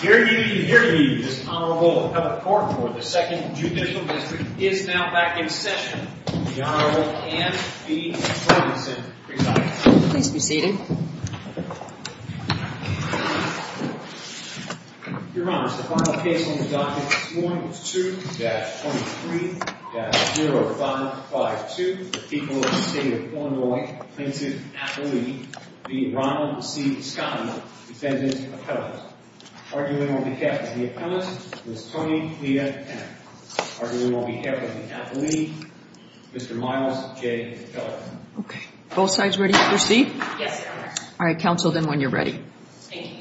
Here to meet you, here to meet you, this Honorable Appellate Court for the Second Judicial District is now back in session. The Honorable Anne B. Robinson presiding. Please be seated. Your Honor, the final case on the docket is 1-2-23-0552. The people of the state of Illinois plaintiff appellee v. Ronald C. Scotti, defendant's appellate. Arguing on behalf of the appellate is Tony Lea Henner. Arguing on behalf of the appellee, Mr. Miles J. Keller. Okay. Both sides ready to proceed? Yes, Your Honor. All right, counsel, then, when you're ready. Thank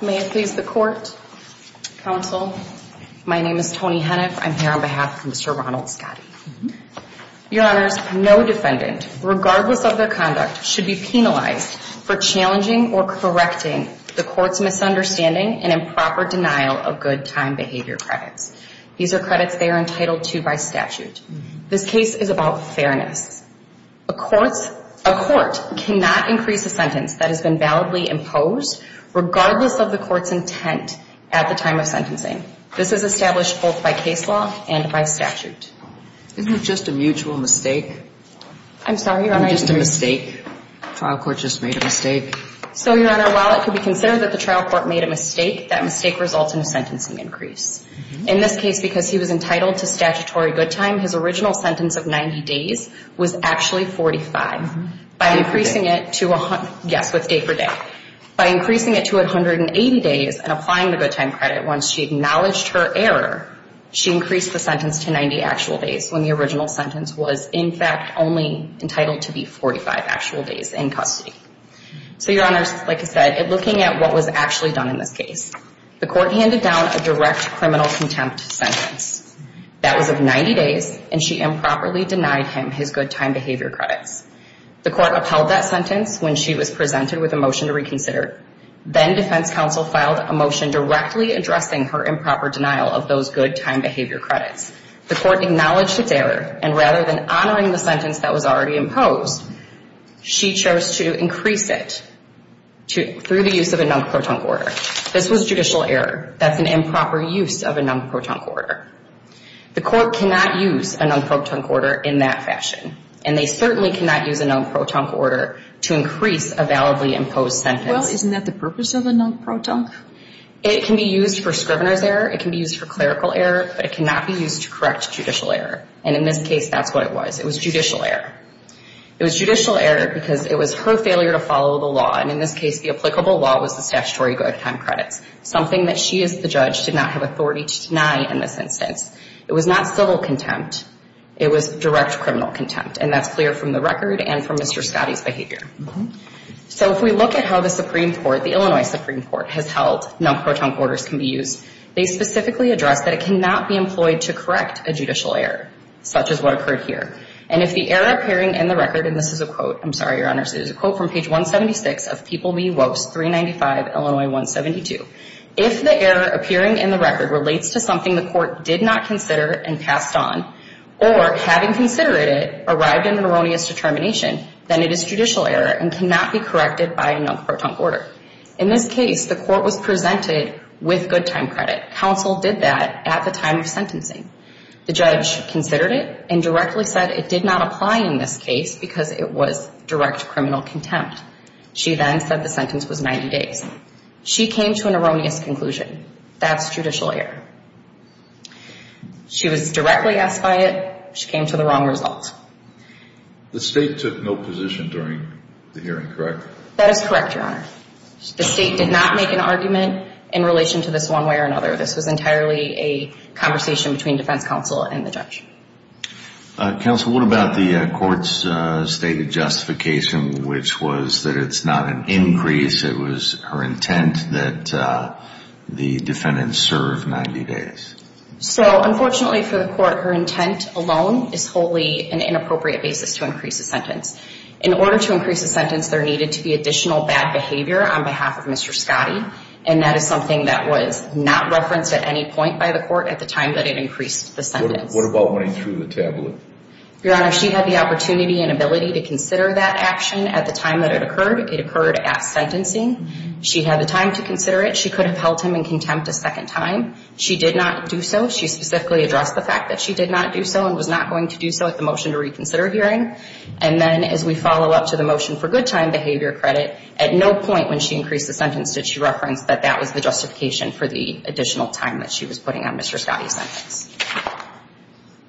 you. May it please the court. Counsel, my name is Tony Henner. I'm here on behalf of Mr. Ronald Scotti. Your Honors, no defendant, regardless of their conduct, should be penalized for challenging or correcting the court's misunderstanding and improper denial of good time behavior credits. These are credits they are entitled to by statute. This case is about fairness. A court cannot increase a sentence that has been validly imposed regardless of the court's intent at the time of sentencing. This is established both by case law and by statute. Isn't it just a mutual mistake? I'm sorry, Your Honor. Isn't it just a mistake? The trial court just made a mistake. So, Your Honor, while it could be considered that the trial court made a mistake, that mistake results in a sentencing increase. In this case, because he was entitled to statutory good time, his original sentence of 90 days was actually 45. By increasing it to a hundred. Yes, with day per day. By increasing it to 180 days and applying the good time credit, once she acknowledged her error, she increased the sentence to 90 actual days when the original sentence was, in fact, only entitled to be 45 actual days in custody. So, Your Honors, like I said, looking at what was actually done in this case. The court handed down a direct criminal contempt sentence. That was of 90 days, and she improperly denied him his good time behavior credits. The court upheld that sentence when she was presented with a motion to reconsider. Then defense counsel filed a motion directly addressing her improper denial of those good time behavior credits. The court acknowledged its error, and rather than honoring the sentence that was already imposed, she chose to increase it through the use of a non-court order. This was judicial error. That's an improper use of a non-protunct order. The court cannot use a non-protunct order in that fashion, and they certainly cannot use a non-protunct order to increase a validly imposed sentence. Well, isn't that the purpose of a non-protunct? It can be used for scrivener's error. It can be used for clerical error, but it cannot be used to correct judicial error, and in this case, that's what it was. It was judicial error. It was judicial error because it was her failure to follow the law, and in this case, the applicable law was the statutory good time credits, something that she as the judge did not have authority to deny in this instance. It was not civil contempt. It was direct criminal contempt, and that's clear from the record and from Mr. Scottie's behavior. So if we look at how the Supreme Court, the Illinois Supreme Court, has held non-protunct orders can be used, they specifically address that it cannot be employed to correct a judicial error, such as what occurred here. And if the error appearing in the record, and this is a quote, I'm sorry, Your Honors, it is a quote from page 176 of People v. Wost 395, Illinois 172. If the error appearing in the record relates to something the court did not consider and passed on or, having considered it, arrived in an erroneous determination, then it is judicial error and cannot be corrected by a non-protunct order. In this case, the court was presented with good time credit. Counsel did that at the time of sentencing. The judge considered it and directly said it did not apply in this case because it was direct criminal contempt. She then said the sentence was 90 days. She came to an erroneous conclusion. That's judicial error. She was directly asked by it. She came to the wrong result. The State took no position during the hearing, correct? That is correct, Your Honor. The State did not make an argument in relation to this one way or another. This was entirely a conversation between defense counsel and the judge. Counsel, what about the court's stated justification, which was that it's not an increase. It was her intent that the defendants serve 90 days. So, unfortunately for the court, her intent alone is wholly an inappropriate basis to increase a sentence. In order to increase a sentence, there needed to be additional bad behavior on behalf of Mr. Scottie, and that is something that was not referenced at any point by the court at the time that it increased the sentence. What about running through the tablet? Your Honor, she had the opportunity and ability to consider that action at the time that it occurred. It occurred at sentencing. She had the time to consider it. She could have held him in contempt a second time. She did not do so. She specifically addressed the fact that she did not do so and was not going to do so at the motion to reconsider hearing. And then as we follow up to the motion for good time behavior credit, at no point when she increased the sentence did she reference that that was the justification for the additional time that she was putting on Mr. Scottie's sentence.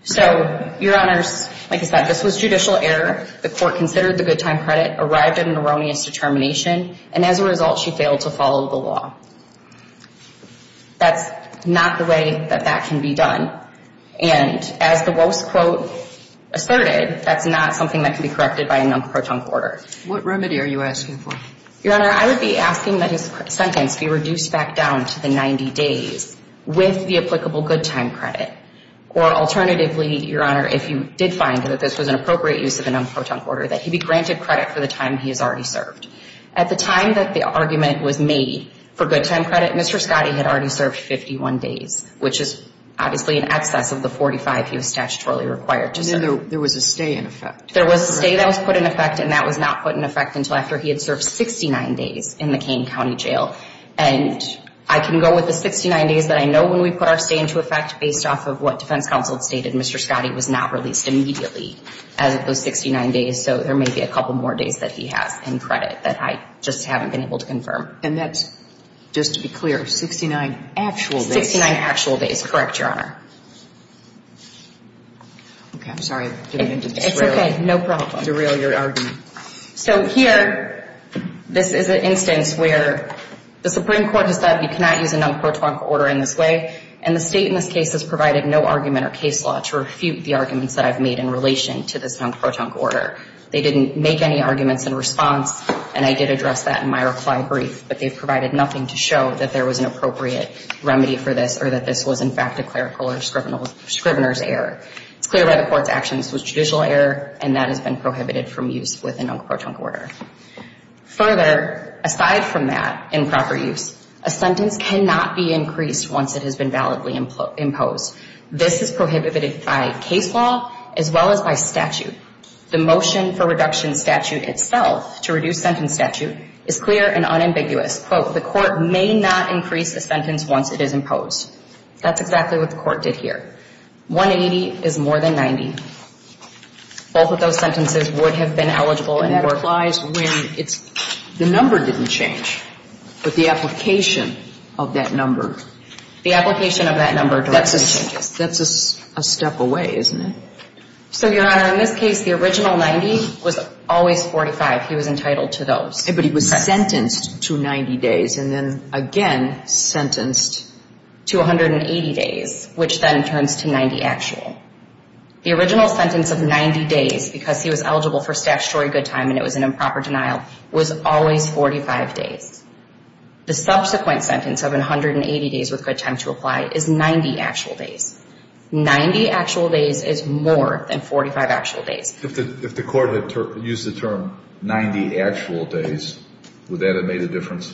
So, Your Honors, like I said, this was judicial error. The court considered the good time credit, arrived at an erroneous determination, and as a result, she failed to follow the law. That's not the way that that can be done. And as the Wost quote asserted, that's not something that can be corrected by a non-protunct order. What remedy are you asking for? Your Honor, I would be asking that his sentence be reduced back down to the 90 days with the applicable good time credit, or alternatively, Your Honor, if you did find that this was an appropriate use of a non-protunct order, that he be granted credit for the time he has already served. At the time that the argument was made for good time credit, Mr. Scottie had already served 51 days, which is obviously in excess of the 45 he was statutorily required to serve. And then there was a stay in effect. There was a stay that was put in effect, and that was not put in effect until after he had served 69 days in the Kane County Jail. And I can go with the 69 days that I know when we put our stay into effect, based off of what defense counsel had stated, Mr. Scottie was not released immediately as of those 69 days, so there may be a couple more days that he has in credit that I just haven't been able to confirm. And that's, just to be clear, 69 actual days? Sixty-nine actual days, correct, Your Honor. Okay. I'm sorry. It's okay. No problem. It's a real, your argument. So here, this is an instance where the Supreme Court has said, you cannot use a non-protunct order in this way, and the State in this case has provided no argument or case law to refute the arguments that I've made in relation to this non-protunct order. They didn't make any arguments in response, and I did address that in my reply brief, but they've provided nothing to show that there was an appropriate remedy for this or that this was, in fact, a clerical or a scrivener's error. It's clear by the Court's actions it was a judicial error, and that has been prohibited from use with a non-protunct order. Further, aside from that improper use, a sentence cannot be increased once it has been validly imposed. This is prohibited by case law as well as by statute. The motion for reduction statute itself, to reduce sentence statute, is clear and unambiguous. Quote, the Court may not increase a sentence once it is imposed. That's exactly what the Court did here. 180 is more than 90. Both of those sentences would have been eligible in court. And that applies when it's the number didn't change, but the application of that number. The application of that number directly changes. That's a step away, isn't it? So, Your Honor, in this case, the original 90 was always 45. He was entitled to those. But he was sentenced to 90 days and then again sentenced to 180 days, which then turns to 90 actual. The original sentence of 90 days, because he was eligible for statutory good time and it was an improper denial, was always 45 days. The subsequent sentence of 180 days with good time to apply is 90 actual days. 90 actual days is more than 45 actual days. If the Court had used the term 90 actual days, would that have made a difference?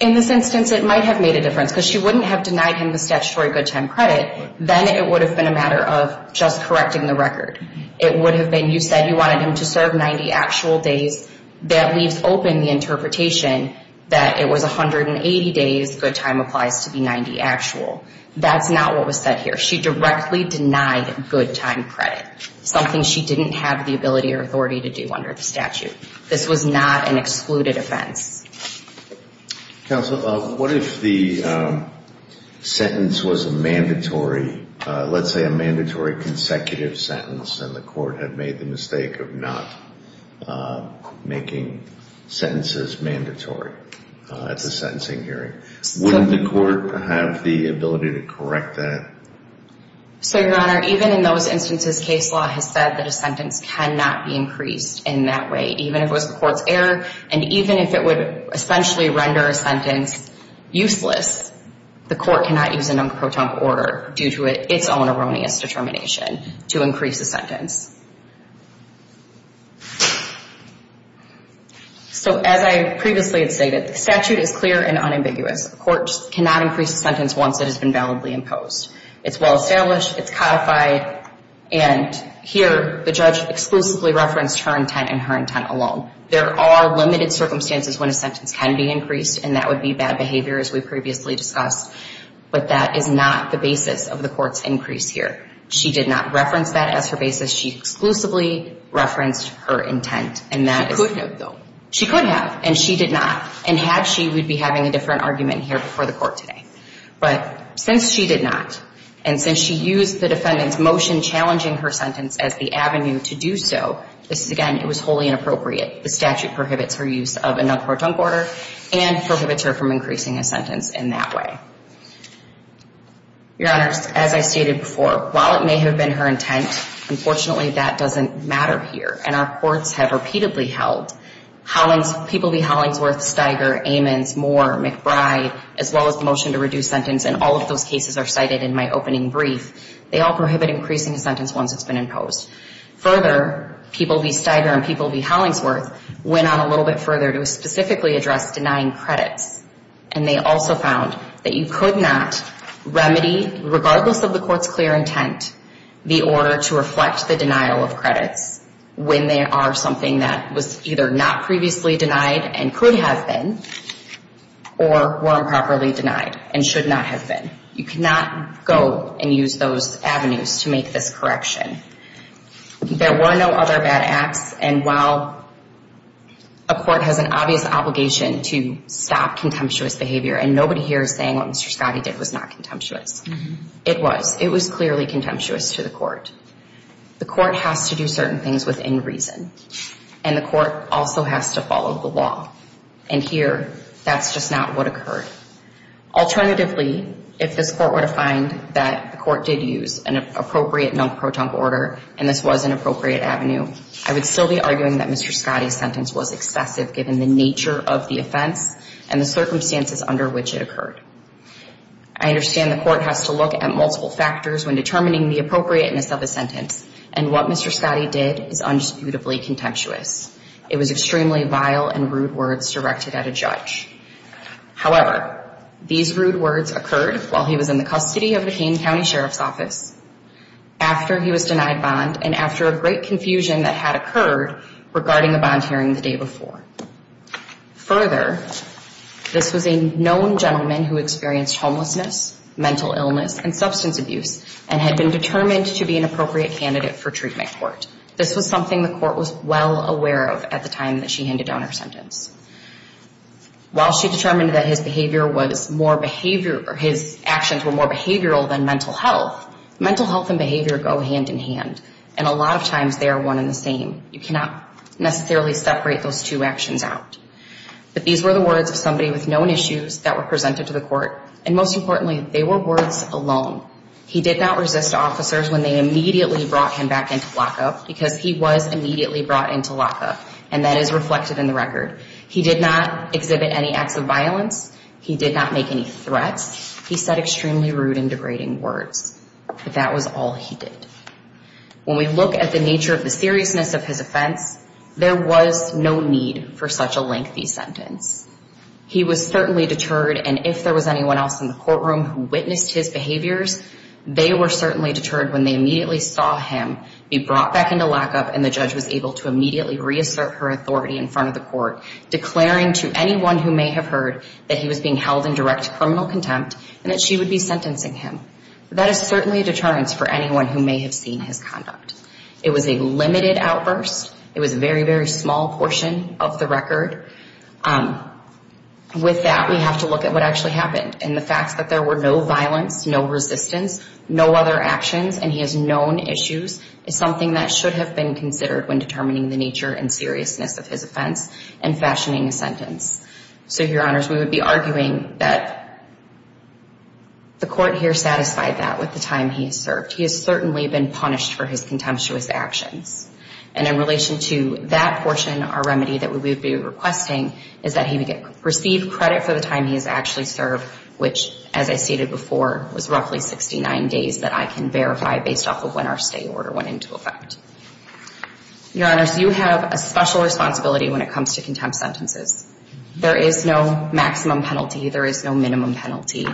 In this instance, it might have made a difference because she wouldn't have denied him the statutory good time credit. Then it would have been a matter of just correcting the record. It would have been you said you wanted him to serve 90 actual days. That leaves open the interpretation that it was 180 days. Good time applies to be 90 actual. That's not what was said here. She directly denied good time credit, something she didn't have the ability or authority to do under the statute. This was not an excluded offense. Counsel, what if the sentence was a mandatory, let's say a mandatory consecutive sentence and the Court had made the mistake of not making sentences mandatory at the sentencing hearing? Wouldn't the Court have the ability to correct that? Your Honor, even in those instances, case law has said that a sentence cannot be increased in that way, even if it was the Court's error and even if it would essentially render a sentence useless. The Court cannot use a non-croton order due to its own erroneous determination to increase the sentence. So as I previously had stated, the statute is clear and unambiguous. The Court cannot increase a sentence once it has been validly imposed. It's well established, it's codified, and here the judge exclusively referenced her intent and her intent alone. There are limited circumstances when a sentence can be increased and that would be bad behavior as we previously discussed, but that is not the basis of the Court's increase here. She did not reference that as her basis. She exclusively referenced her intent. She could have, though. She could have, and she did not, and had she, we'd be having a different argument here before the Court today. But since she did not, and since she used the defendant's motion challenging her sentence as the avenue to do so, this is, again, it was wholly inappropriate. The statute prohibits her use of a non-croton order and prohibits her from increasing a sentence in that way. Your Honors, as I stated before, while it may have been her intent, unfortunately that doesn't matter here, and our courts have repeatedly held People v. Hollingsworth, Steiger, Amons, Moore, McBride, as well as the motion to reduce sentence, and all of those cases are cited in my opening brief, they all prohibit increasing a sentence once it's been imposed. Further, People v. Steiger and People v. Hollingsworth went on a little bit further to specifically address denying credits, and they also found that you could not remedy, regardless of the court's clear intent, the order to reflect the denial of credits when they are something that was either not previously denied and could have been, or were improperly denied and should not have been. You cannot go and use those avenues to make this correction. There were no other bad acts, and while a court has an obvious obligation to stop contemptuous behavior, and nobody here is saying what Mr. Scottie did was not contemptuous, it was. It was clearly contemptuous to the court. The court has to do certain things within reason, and the court also has to follow the law. And here, that's just not what occurred. Alternatively, if this court were to find that the court did use an appropriate non-proton order, and this was an appropriate avenue, I would still be arguing that Mr. Scottie's sentence was excessive given the nature of the offense and the circumstances under which it occurred. I understand the court has to look at multiple factors when determining the appropriateness of a sentence, and what Mr. Scottie did is undisputably contemptuous. It was extremely vile and rude words directed at a judge. However, these rude words occurred while he was in the custody of the Kane County Sheriff's Office, after he was denied bond, and after a great confusion that had occurred regarding the bond hearing the day before. Further, this was a known gentleman who experienced homelessness, mental illness, and substance abuse, and had been determined to be an appropriate candidate for treatment at court. This was something the court was well aware of at the time that she handed down her sentence. While she determined that his actions were more behavioral than mental health, mental health and behavior go hand in hand, and a lot of times they are one and the same. You cannot necessarily separate those two actions out. But these were the words of somebody with known issues that were presented to the court, and most importantly, they were words alone. He did not resist officers when they immediately brought him back into lockup, because he was immediately brought into lockup, and that is reflected in the record. He did not exhibit any acts of violence. He did not make any threats. He said extremely rude and degrading words, but that was all he did. When we look at the nature of the seriousness of his offense, there was no need for such a lengthy sentence. He was certainly deterred, and if there was anyone else in the courtroom who witnessed his behaviors, they were certainly deterred when they immediately saw him be brought back into lockup, and the judge was able to immediately reassert her authority in front of the court, declaring to anyone who may have heard that he was being held in direct criminal contempt, and that she would be sentencing him. That is certainly a deterrence for anyone who may have seen his conduct. It was a limited outburst. It was a very, very small portion of the record. With that, we have to look at what actually happened, and the fact that there were no violence, no resistance, no other actions, and he has known issues, is something that should have been considered when determining the nature and seriousness of his offense and fashioning a sentence. So, Your Honors, we would be arguing that the court here satisfied that with the time he has served. He has certainly been punished for his contemptuous actions, and in relation to that portion, our remedy that we would be requesting is that he would receive credit for the time he has actually served, which, as I stated before, was roughly 69 days that I can verify based off of when our stay order went into effect. Your Honors, you have a special responsibility when it comes to contempt sentences. There is no maximum penalty. There is no minimum penalty.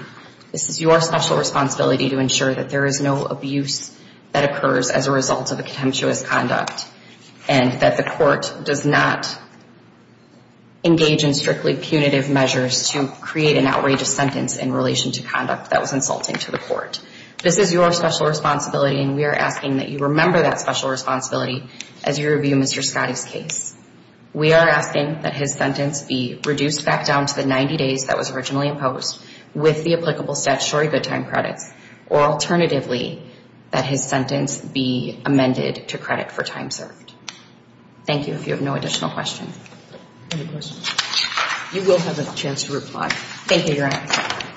This is your special responsibility to ensure that there is no abuse that occurs as a result of a contemptuous conduct and that the court does not engage in strictly punitive measures to create an outrageous sentence in relation to conduct that was insulting to the court. This is your special responsibility, and we are asking that you remember that special responsibility as you review Mr. Scottie's case. We are asking that his sentence be reduced back down to the 90 days that was originally imposed with the applicable statutory good time credits, or alternatively, that his sentence be amended to credit for time served. Thank you. If you have no additional questions. Any questions? You will have a chance to reply. Thank you, Your Honors.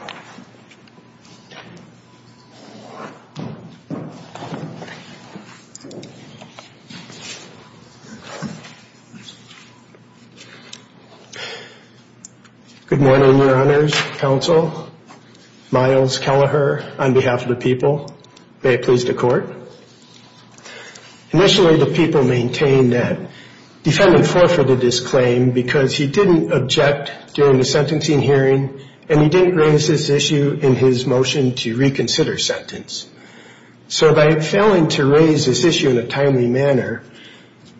Good morning, Your Honors, Counsel, Miles Kelleher, on behalf of the people. May it please the court. Initially, the people maintained that defendant forfeited his claim because he didn't object during the sentencing hearing and he didn't raise this issue in his motion to reconsider sentence. So by failing to raise this issue in a timely manner,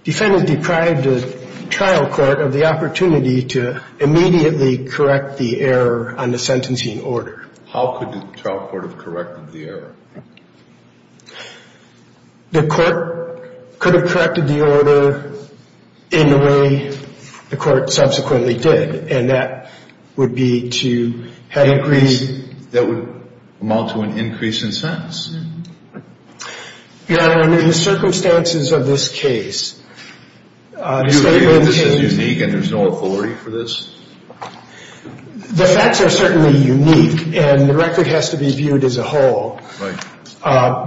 defendant deprived the trial court of the opportunity to immediately correct the error on the sentencing order. How could the trial court have corrected the error? The court could have corrected the order in the way the court subsequently did, and that would be to have increased. That would amount to an increase in sentence. Your Honor, under the circumstances of this case. Do you believe this is unique and there's no authority for this? The facts are certainly unique, and the record has to be viewed as a whole.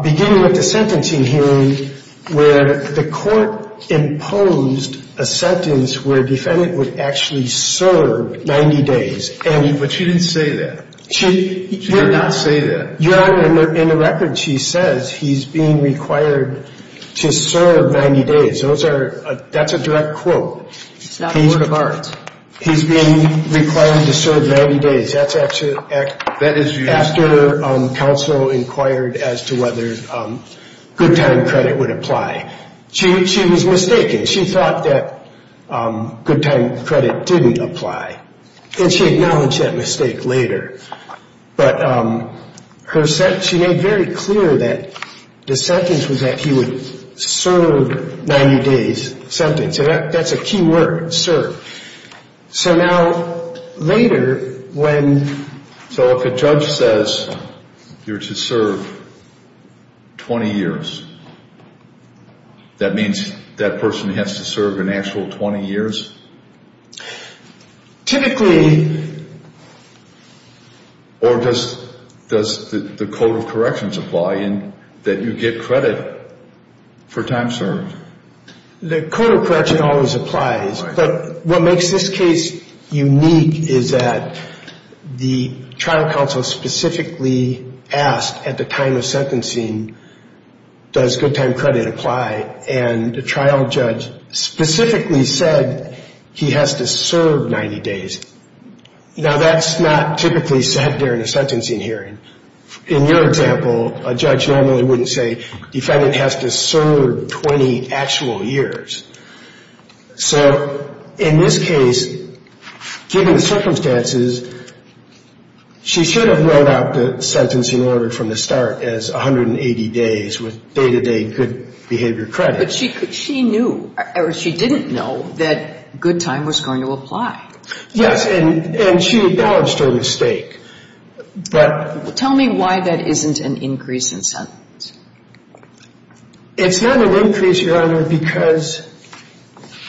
Beginning with the sentencing hearing, where the court imposed a sentence where defendant would actually serve 90 days. But she didn't say that. She did not say that. Your Honor, in the record she says he's being required to serve 90 days. That's a direct quote. It's not a word of art. He's being required to serve 90 days. That's after counsel inquired as to whether good time credit would apply. She was mistaken. She thought that good time credit didn't apply, and she acknowledged that mistake later. But she made very clear that the sentence was that he would serve 90 days. That's a key word, serve. So now later when... So if a judge says you're to serve 20 years, that means that person has to serve an actual 20 years? Typically... Or does the code of corrections apply in that you get credit for time served? The code of correction always applies. But what makes this case unique is that the trial counsel specifically asked at the time of sentencing, does good time credit apply, and the trial judge specifically said he has to serve 90 days. Now, that's not typically said during a sentencing hearing. In your example, a judge normally wouldn't say defendant has to serve 20 actual years. So in this case, given the circumstances, she should have wrote out the sentencing order from the start as 180 days with day-to-day good behavior credit. But she knew, or she didn't know, that good time was going to apply. Yes, and she acknowledged her mistake. But... Tell me why that isn't an increase in sentence. It's not an increase, Your Honor, because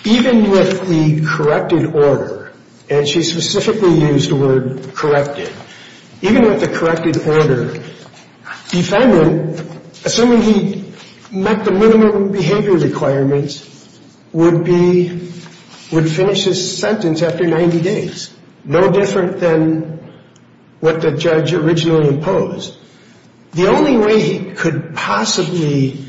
even with the corrected order, and she specifically used the word corrected, even with the corrected order, defendant, assuming he met the minimum behavior requirements, would be, would finish his sentence after 90 days. No different than what the judge originally imposed. The only way he could possibly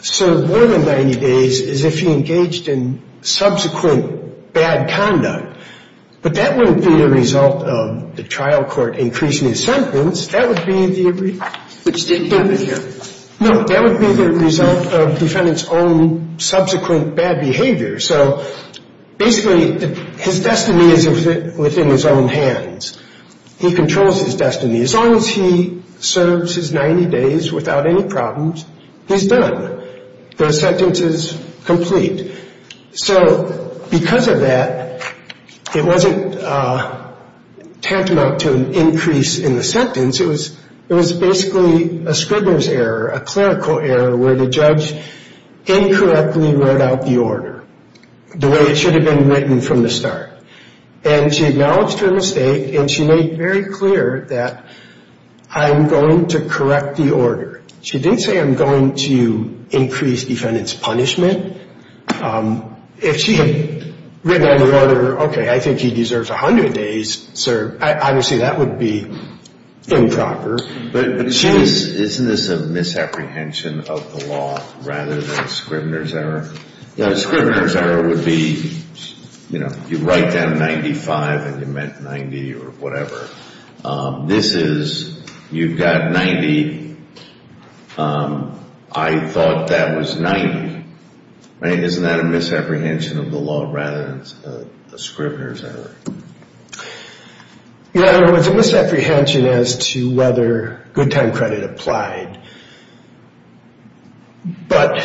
serve more than 90 days is if he engaged in subsequent bad conduct. But that wouldn't be the result of the trial court increasing his sentence. That would be the... Which didn't happen here. No, that would be the result of defendant's own subsequent bad behavior. So basically, his destiny is within his own hands. He controls his destiny. As long as he serves his 90 days without any problems, he's done. The sentence is complete. So because of that, it wasn't tantamount to an increase in the sentence. It was basically a Scribner's error, a clerical error, where the judge incorrectly wrote out the order the way it should have been written from the start. And she acknowledged her mistake, and she made very clear that I'm going to correct the order. She didn't say I'm going to increase defendant's punishment. If she had written out the order, okay, I think he deserves 100 days served, obviously that would be improper. But isn't this a misapprehension of the law rather than a Scribner's error? A Scribner's error would be, you know, you write down 95 and you meant 90 or whatever. This is you've got 90. I thought that was 90. Right? Isn't that a misapprehension of the law rather than a Scribner's error? Yeah, it was a misapprehension as to whether good time credit applied. But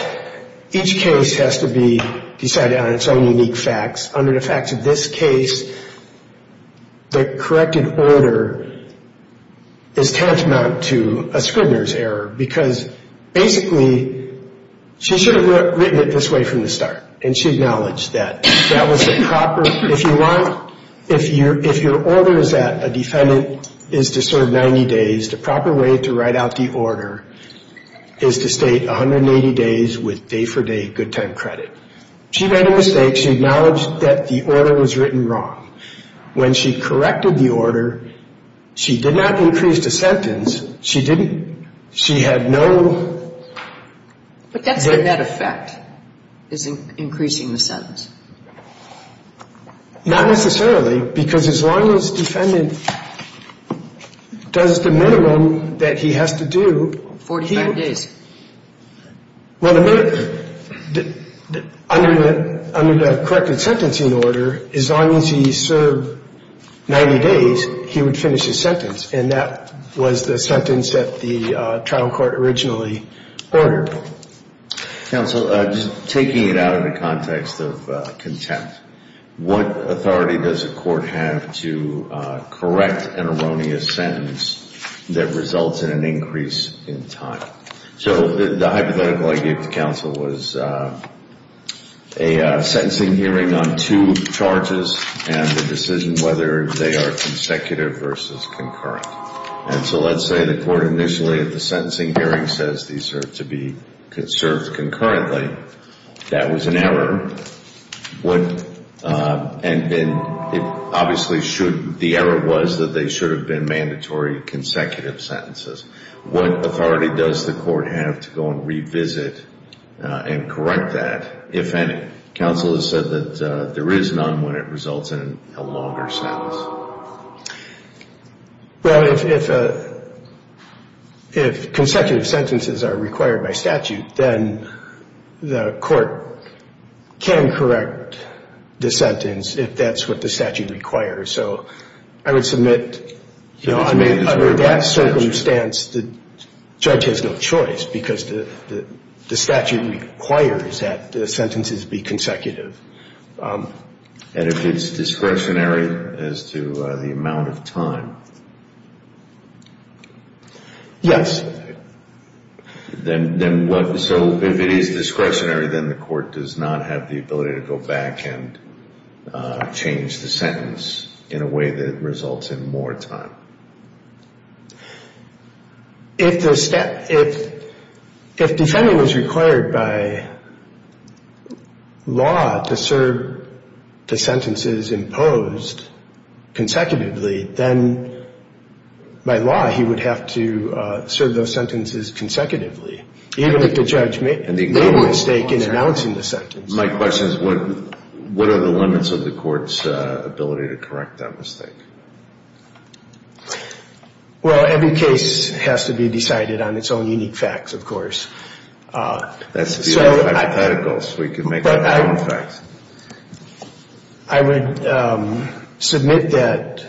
each case has to be decided on its own unique facts. Under the facts of this case, the corrected order is tantamount to a Scribner's error, because basically she should have written it this way from the start, and she acknowledged that. That was the proper, if you want, if your order is that a defendant is to serve 90 days, the proper way to write out the order is to state 180 days with day-for-day good time credit. She made a mistake. She acknowledged that the order was written wrong. When she corrected the order, she did not increase the sentence. She didn't. She had no. But that's the net effect is increasing the sentence. Not necessarily, because as long as the defendant does the minimum that he has to do. 45 days. Well, under the corrected sentencing order, as long as he served 90 days, he would finish his sentence, and that was the sentence that the trial court originally ordered. Counsel, just taking it out of the context of contempt, what authority does a court have to correct an erroneous sentence that results in an increase in time? So the hypothetical I gave to counsel was a sentencing hearing on two charges and the decision whether they are consecutive versus concurrent. And so let's say the court initially at the sentencing hearing says these are to be served concurrently. That was an error. And then obviously the error was that they should have been mandatory consecutive sentences. What authority does the court have to go and revisit and correct that, if any? Counsel has said that there is none when it results in a longer sentence. Well, if consecutive sentences are required by statute, then the court can correct the sentence if that's what the statute requires. So I would submit, you know, under that circumstance, the judge has no choice, because the statute requires that the sentences be consecutive. And if it's discretionary as to the amount of time? Yes. Then what? So if it is discretionary, then the court does not have the ability to go back and change the sentence in a way that results in more time. If the defendant was required by law to serve the sentences imposed consecutively, then by law he would have to serve those sentences consecutively, even if the judge made a mistake in announcing the sentence. My question is, what are the limits of the court's ability to correct that mistake? Well, every case has to be decided on its own unique facts, of course. That's the idea of hypotheticals. We can make up our own facts. I would submit that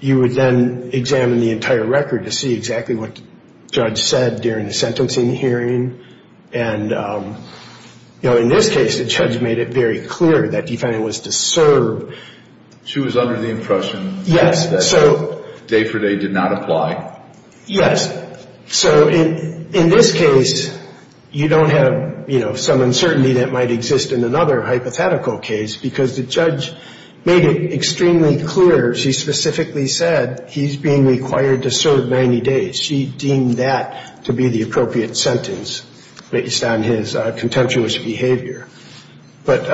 you would then examine the entire record to see exactly what the judge said during the sentencing hearing. And, you know, in this case, the judge made it very clear that the defendant was to serve. She was under the impression. Yes. That day for day did not apply. Yes. So in this case, you don't have, you know, some uncertainty that might exist in another hypothetical case because the judge made it extremely clear. She specifically said he's being required to serve 90 days. She deemed that to be the appropriate sentence based on his contemptuous behavior. But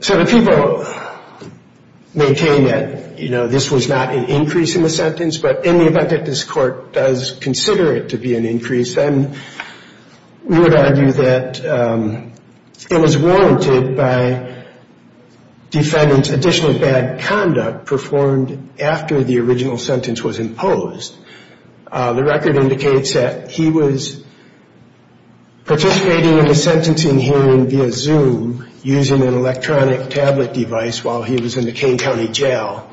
so the people maintain that, you know, this was not an increase in the sentence, but in the event that this court does consider it to be an increase, then we would argue that it was warranted by defendant's additional bad conduct performed after the original sentence was imposed. The record indicates that he was participating in the sentencing hearing via Zoom using an electronic tablet device while he was in the Kane County Jail.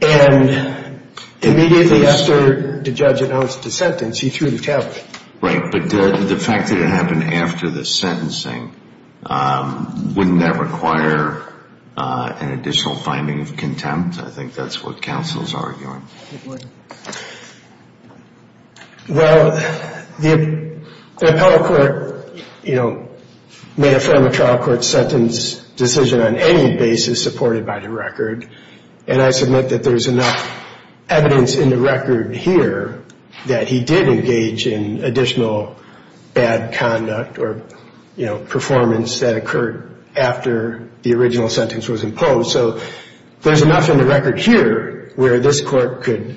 And immediately after the judge announced the sentence, he threw the tablet. Right, but the fact that it happened after the sentencing, wouldn't that require an additional finding of contempt? I think that's what counsel's arguing. Well, the appellate court, you know, may affirm a trial court sentence decision on any basis supported by the record. And I submit that there's enough evidence in the record here that he did engage in additional bad conduct or, you know, performance that occurred after the original sentence was imposed. So there's enough in the record here where this court could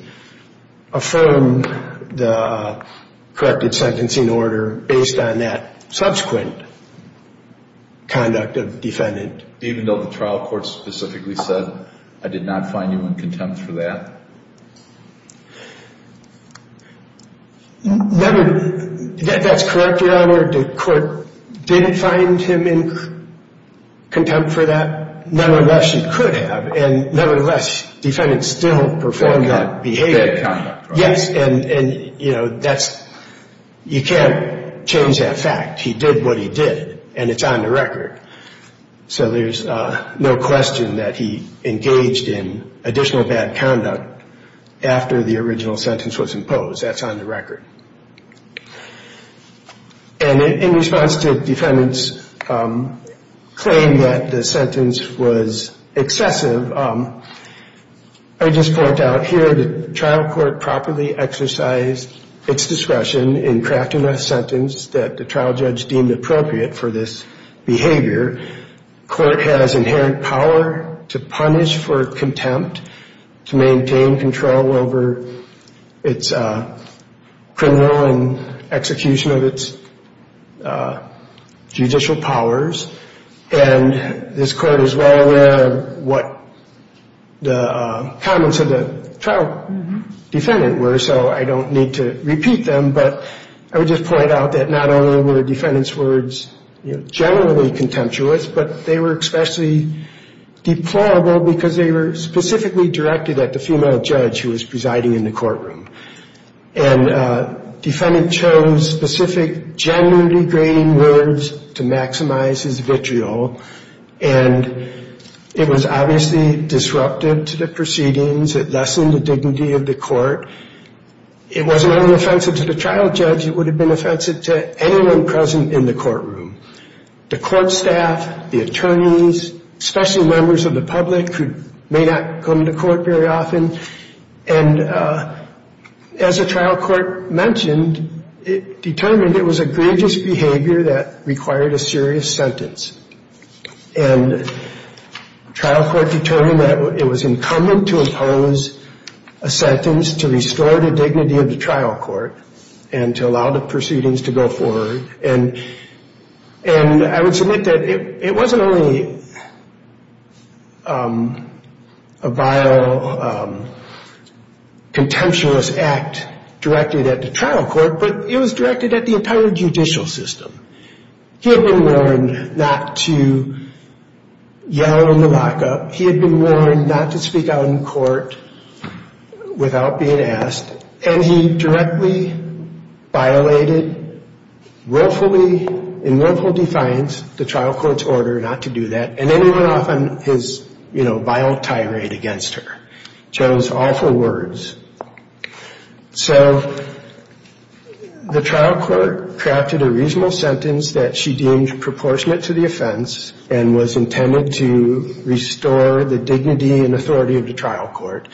affirm the corrected sentencing order based on that subsequent conduct of defendant. Even though the trial court specifically said, I did not find you in contempt for that? That's correct, Your Honor. The court didn't find him in contempt for that. Nevertheless, you could have. And nevertheless, defendant still performed that behavior. Bad conduct. Yes, and, you know, that's, you can't change that fact. He did what he did, and it's on the record. So there's no question that he engaged in additional bad conduct after the original sentence was imposed. That's on the record. And in response to defendant's claim that the sentence was excessive, I just point out here the trial court properly exercised its discretion in crafting a sentence that the trial judge deemed appropriate for this behavior. The court has inherent power to punish for contempt, to maintain control over its criminal and execution of its judicial powers. And this court is well aware of what the comments of the trial defendant were, so I don't need to repeat them. But I would just point out that not only were defendant's words generally contemptuous, but they were especially deplorable because they were specifically directed at the female judge who was presiding in the courtroom. And defendant chose specific gender-degrading words to maximize his vitriol, and it was obviously disruptive to the proceedings. It lessened the dignity of the court. It wasn't only offensive to the trial judge. It would have been offensive to anyone present in the courtroom, the court staff, the attorneys, especially members of the public who may not come to court very often. And as the trial court mentioned, it determined it was egregious behavior that required a serious sentence. And trial court determined that it was incumbent to impose a sentence to restore the dignity of the trial court and to allow the proceedings to go forward. And I would submit that it wasn't only a vile, contemptuous act directed at the trial court, but it was directed at the entire judicial system. He had been warned not to yell in the lockup. He had been warned not to speak out in court without being asked. And he directly violated willfully, in willful defiance, the trial court's order not to do that. And then he went off on his, you know, vile tirade against her. Chose awful words. So the trial court crafted a reasonable sentence that she deemed proportionate to the offense and was intended to restore the dignity and authority of the trial court.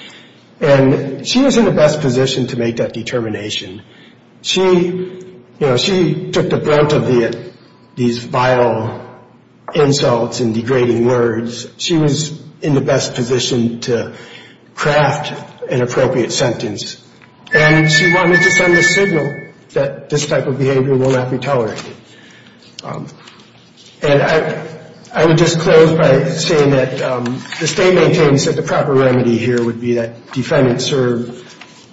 And she was in the best position to make that determination. She, you know, she took the brunt of these vile insults and degrading words. She was in the best position to craft an appropriate sentence. And she wanted to send a signal that this type of behavior will not be tolerated. And I would just close by saying that the state maintains that the proper remedy here would be that defendants serve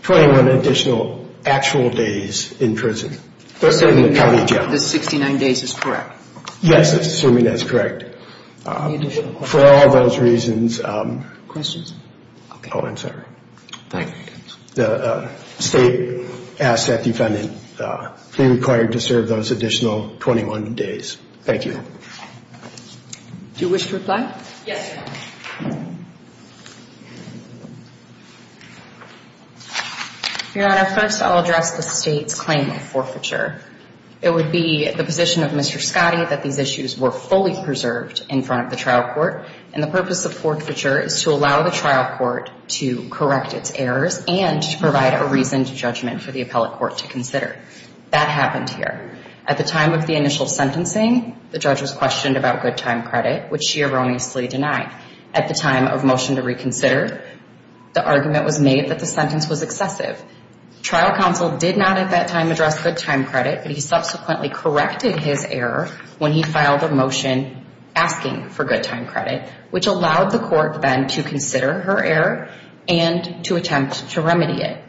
21 additional actual days in prison. The 69 days is correct. Yes, assuming that's correct. For all those reasons. Questions? Oh, I'm sorry. The state asks that defendants be required to serve those additional 21 days. Thank you. Do you wish to reply? Yes. Your Honor, first I'll address the state's claim of forfeiture. It would be the position of Mr. Scotty that these issues were fully preserved in front of the trial court. And the purpose of forfeiture is to allow the trial court to correct its errors and to provide a reasoned judgment for the appellate court to consider. That happened here. At the time of the initial sentencing, the judge was questioned about good time credit, which she erroneously denied. At the time of motion to reconsider, the argument was made that the sentence was excessive. Trial counsel did not at that time address good time credit, but he subsequently corrected his error when he filed a motion asking for good time credit, which allowed the court then to consider her error and to attempt to remedy it.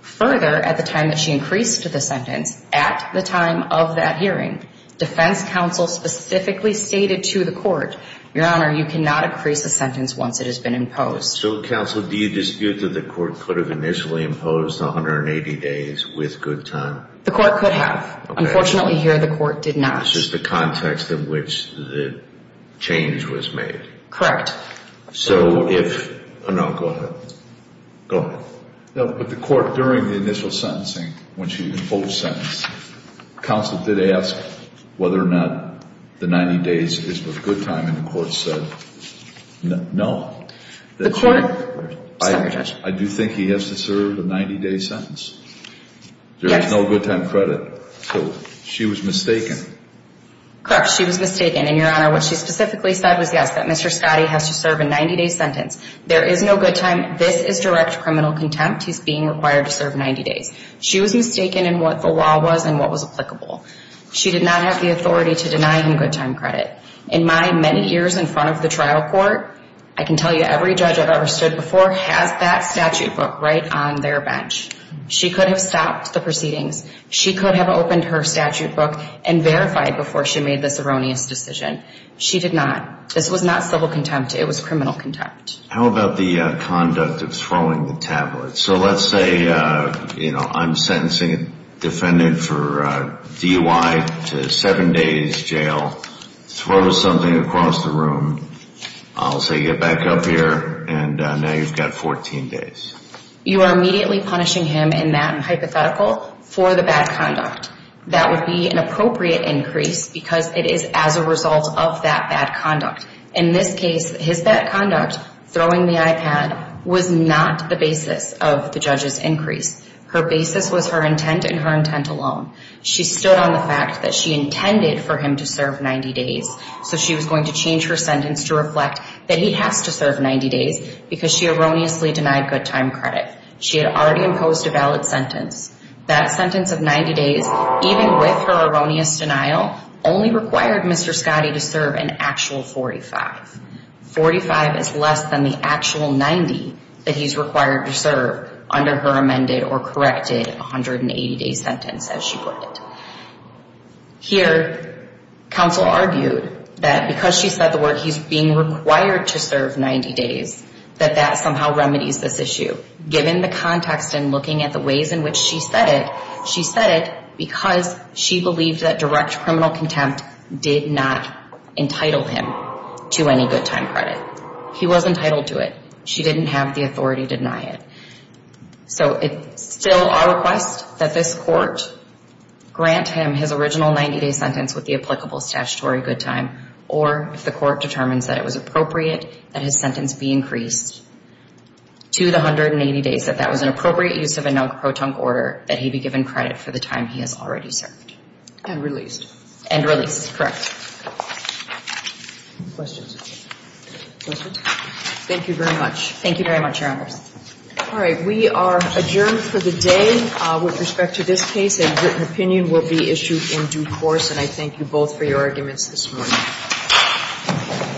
Further, at the time that she increased the sentence, at the time of that hearing, defense counsel specifically stated to the court, Your Honor, you cannot increase the sentence once it has been imposed. So, counsel, do you dispute that the court could have initially imposed 180 days with good time? The court could have. Unfortunately, here the court did not. This is the context in which the change was made. So if, no, go ahead. Go ahead. No, but the court, during the initial sentencing, when she imposed sentence, counsel did ask whether or not the 90 days is with good time, and the court said no. The court, sorry, Judge. I do think he has to serve a 90-day sentence. Yes. There is no good time credit. So she was mistaken. Correct. She was mistaken, and, Your Honor, what she specifically said was yes, that Mr. Scotti has to serve a 90-day sentence. There is no good time. This is direct criminal contempt. He's being required to serve 90 days. She was mistaken in what the law was and what was applicable. She did not have the authority to deny him good time credit. In my many years in front of the trial court, I can tell you every judge I've ever stood before has that statute book right on their bench. She could have stopped the proceedings. She could have opened her statute book and verified before she made this erroneous decision. She did not. This was not civil contempt. It was criminal contempt. How about the conduct of throwing the tablet? So let's say, you know, I'm sentencing a defendant for DUI to seven days jail, throw something across the room, I'll say get back up here, and now you've got 14 days. You are immediately punishing him in that hypothetical for the bad conduct. That would be an appropriate increase because it is as a result of that bad conduct. In this case, his bad conduct, throwing the iPad, was not the basis of the judge's increase. Her basis was her intent and her intent alone. She stood on the fact that she intended for him to serve 90 days, so she was going to change her sentence to reflect that he has to serve 90 days because she erroneously denied good time credit. She had already imposed a valid sentence. That sentence of 90 days, even with her erroneous denial, only required Mr. Scotty to serve an actual 45. Forty-five is less than the actual 90 that he's required to serve under her amended or corrected 180-day sentence, as she put it. Here, counsel argued that because she said the word he's being required to serve 90 days, that that somehow remedies this issue. Given the context and looking at the ways in which she said it, she said it because she believed that direct criminal contempt did not entitle him to any good time credit. He was entitled to it. She didn't have the authority to deny it. So it's still our request that this court grant him his original 90-day sentence with the applicable statutory good time, or if the court determines that it was appropriate that his sentence be increased to the 180 days, that that was an appropriate use of a non-protunct order, that he be given credit for the time he has already served. And released. And released. Correct. Questions? Questions? Thank you very much. Thank you very much, Your Honors. All right. We are adjourned for the day. With respect to this case, a written opinion will be issued in due course, and I thank you both for your arguments this morning.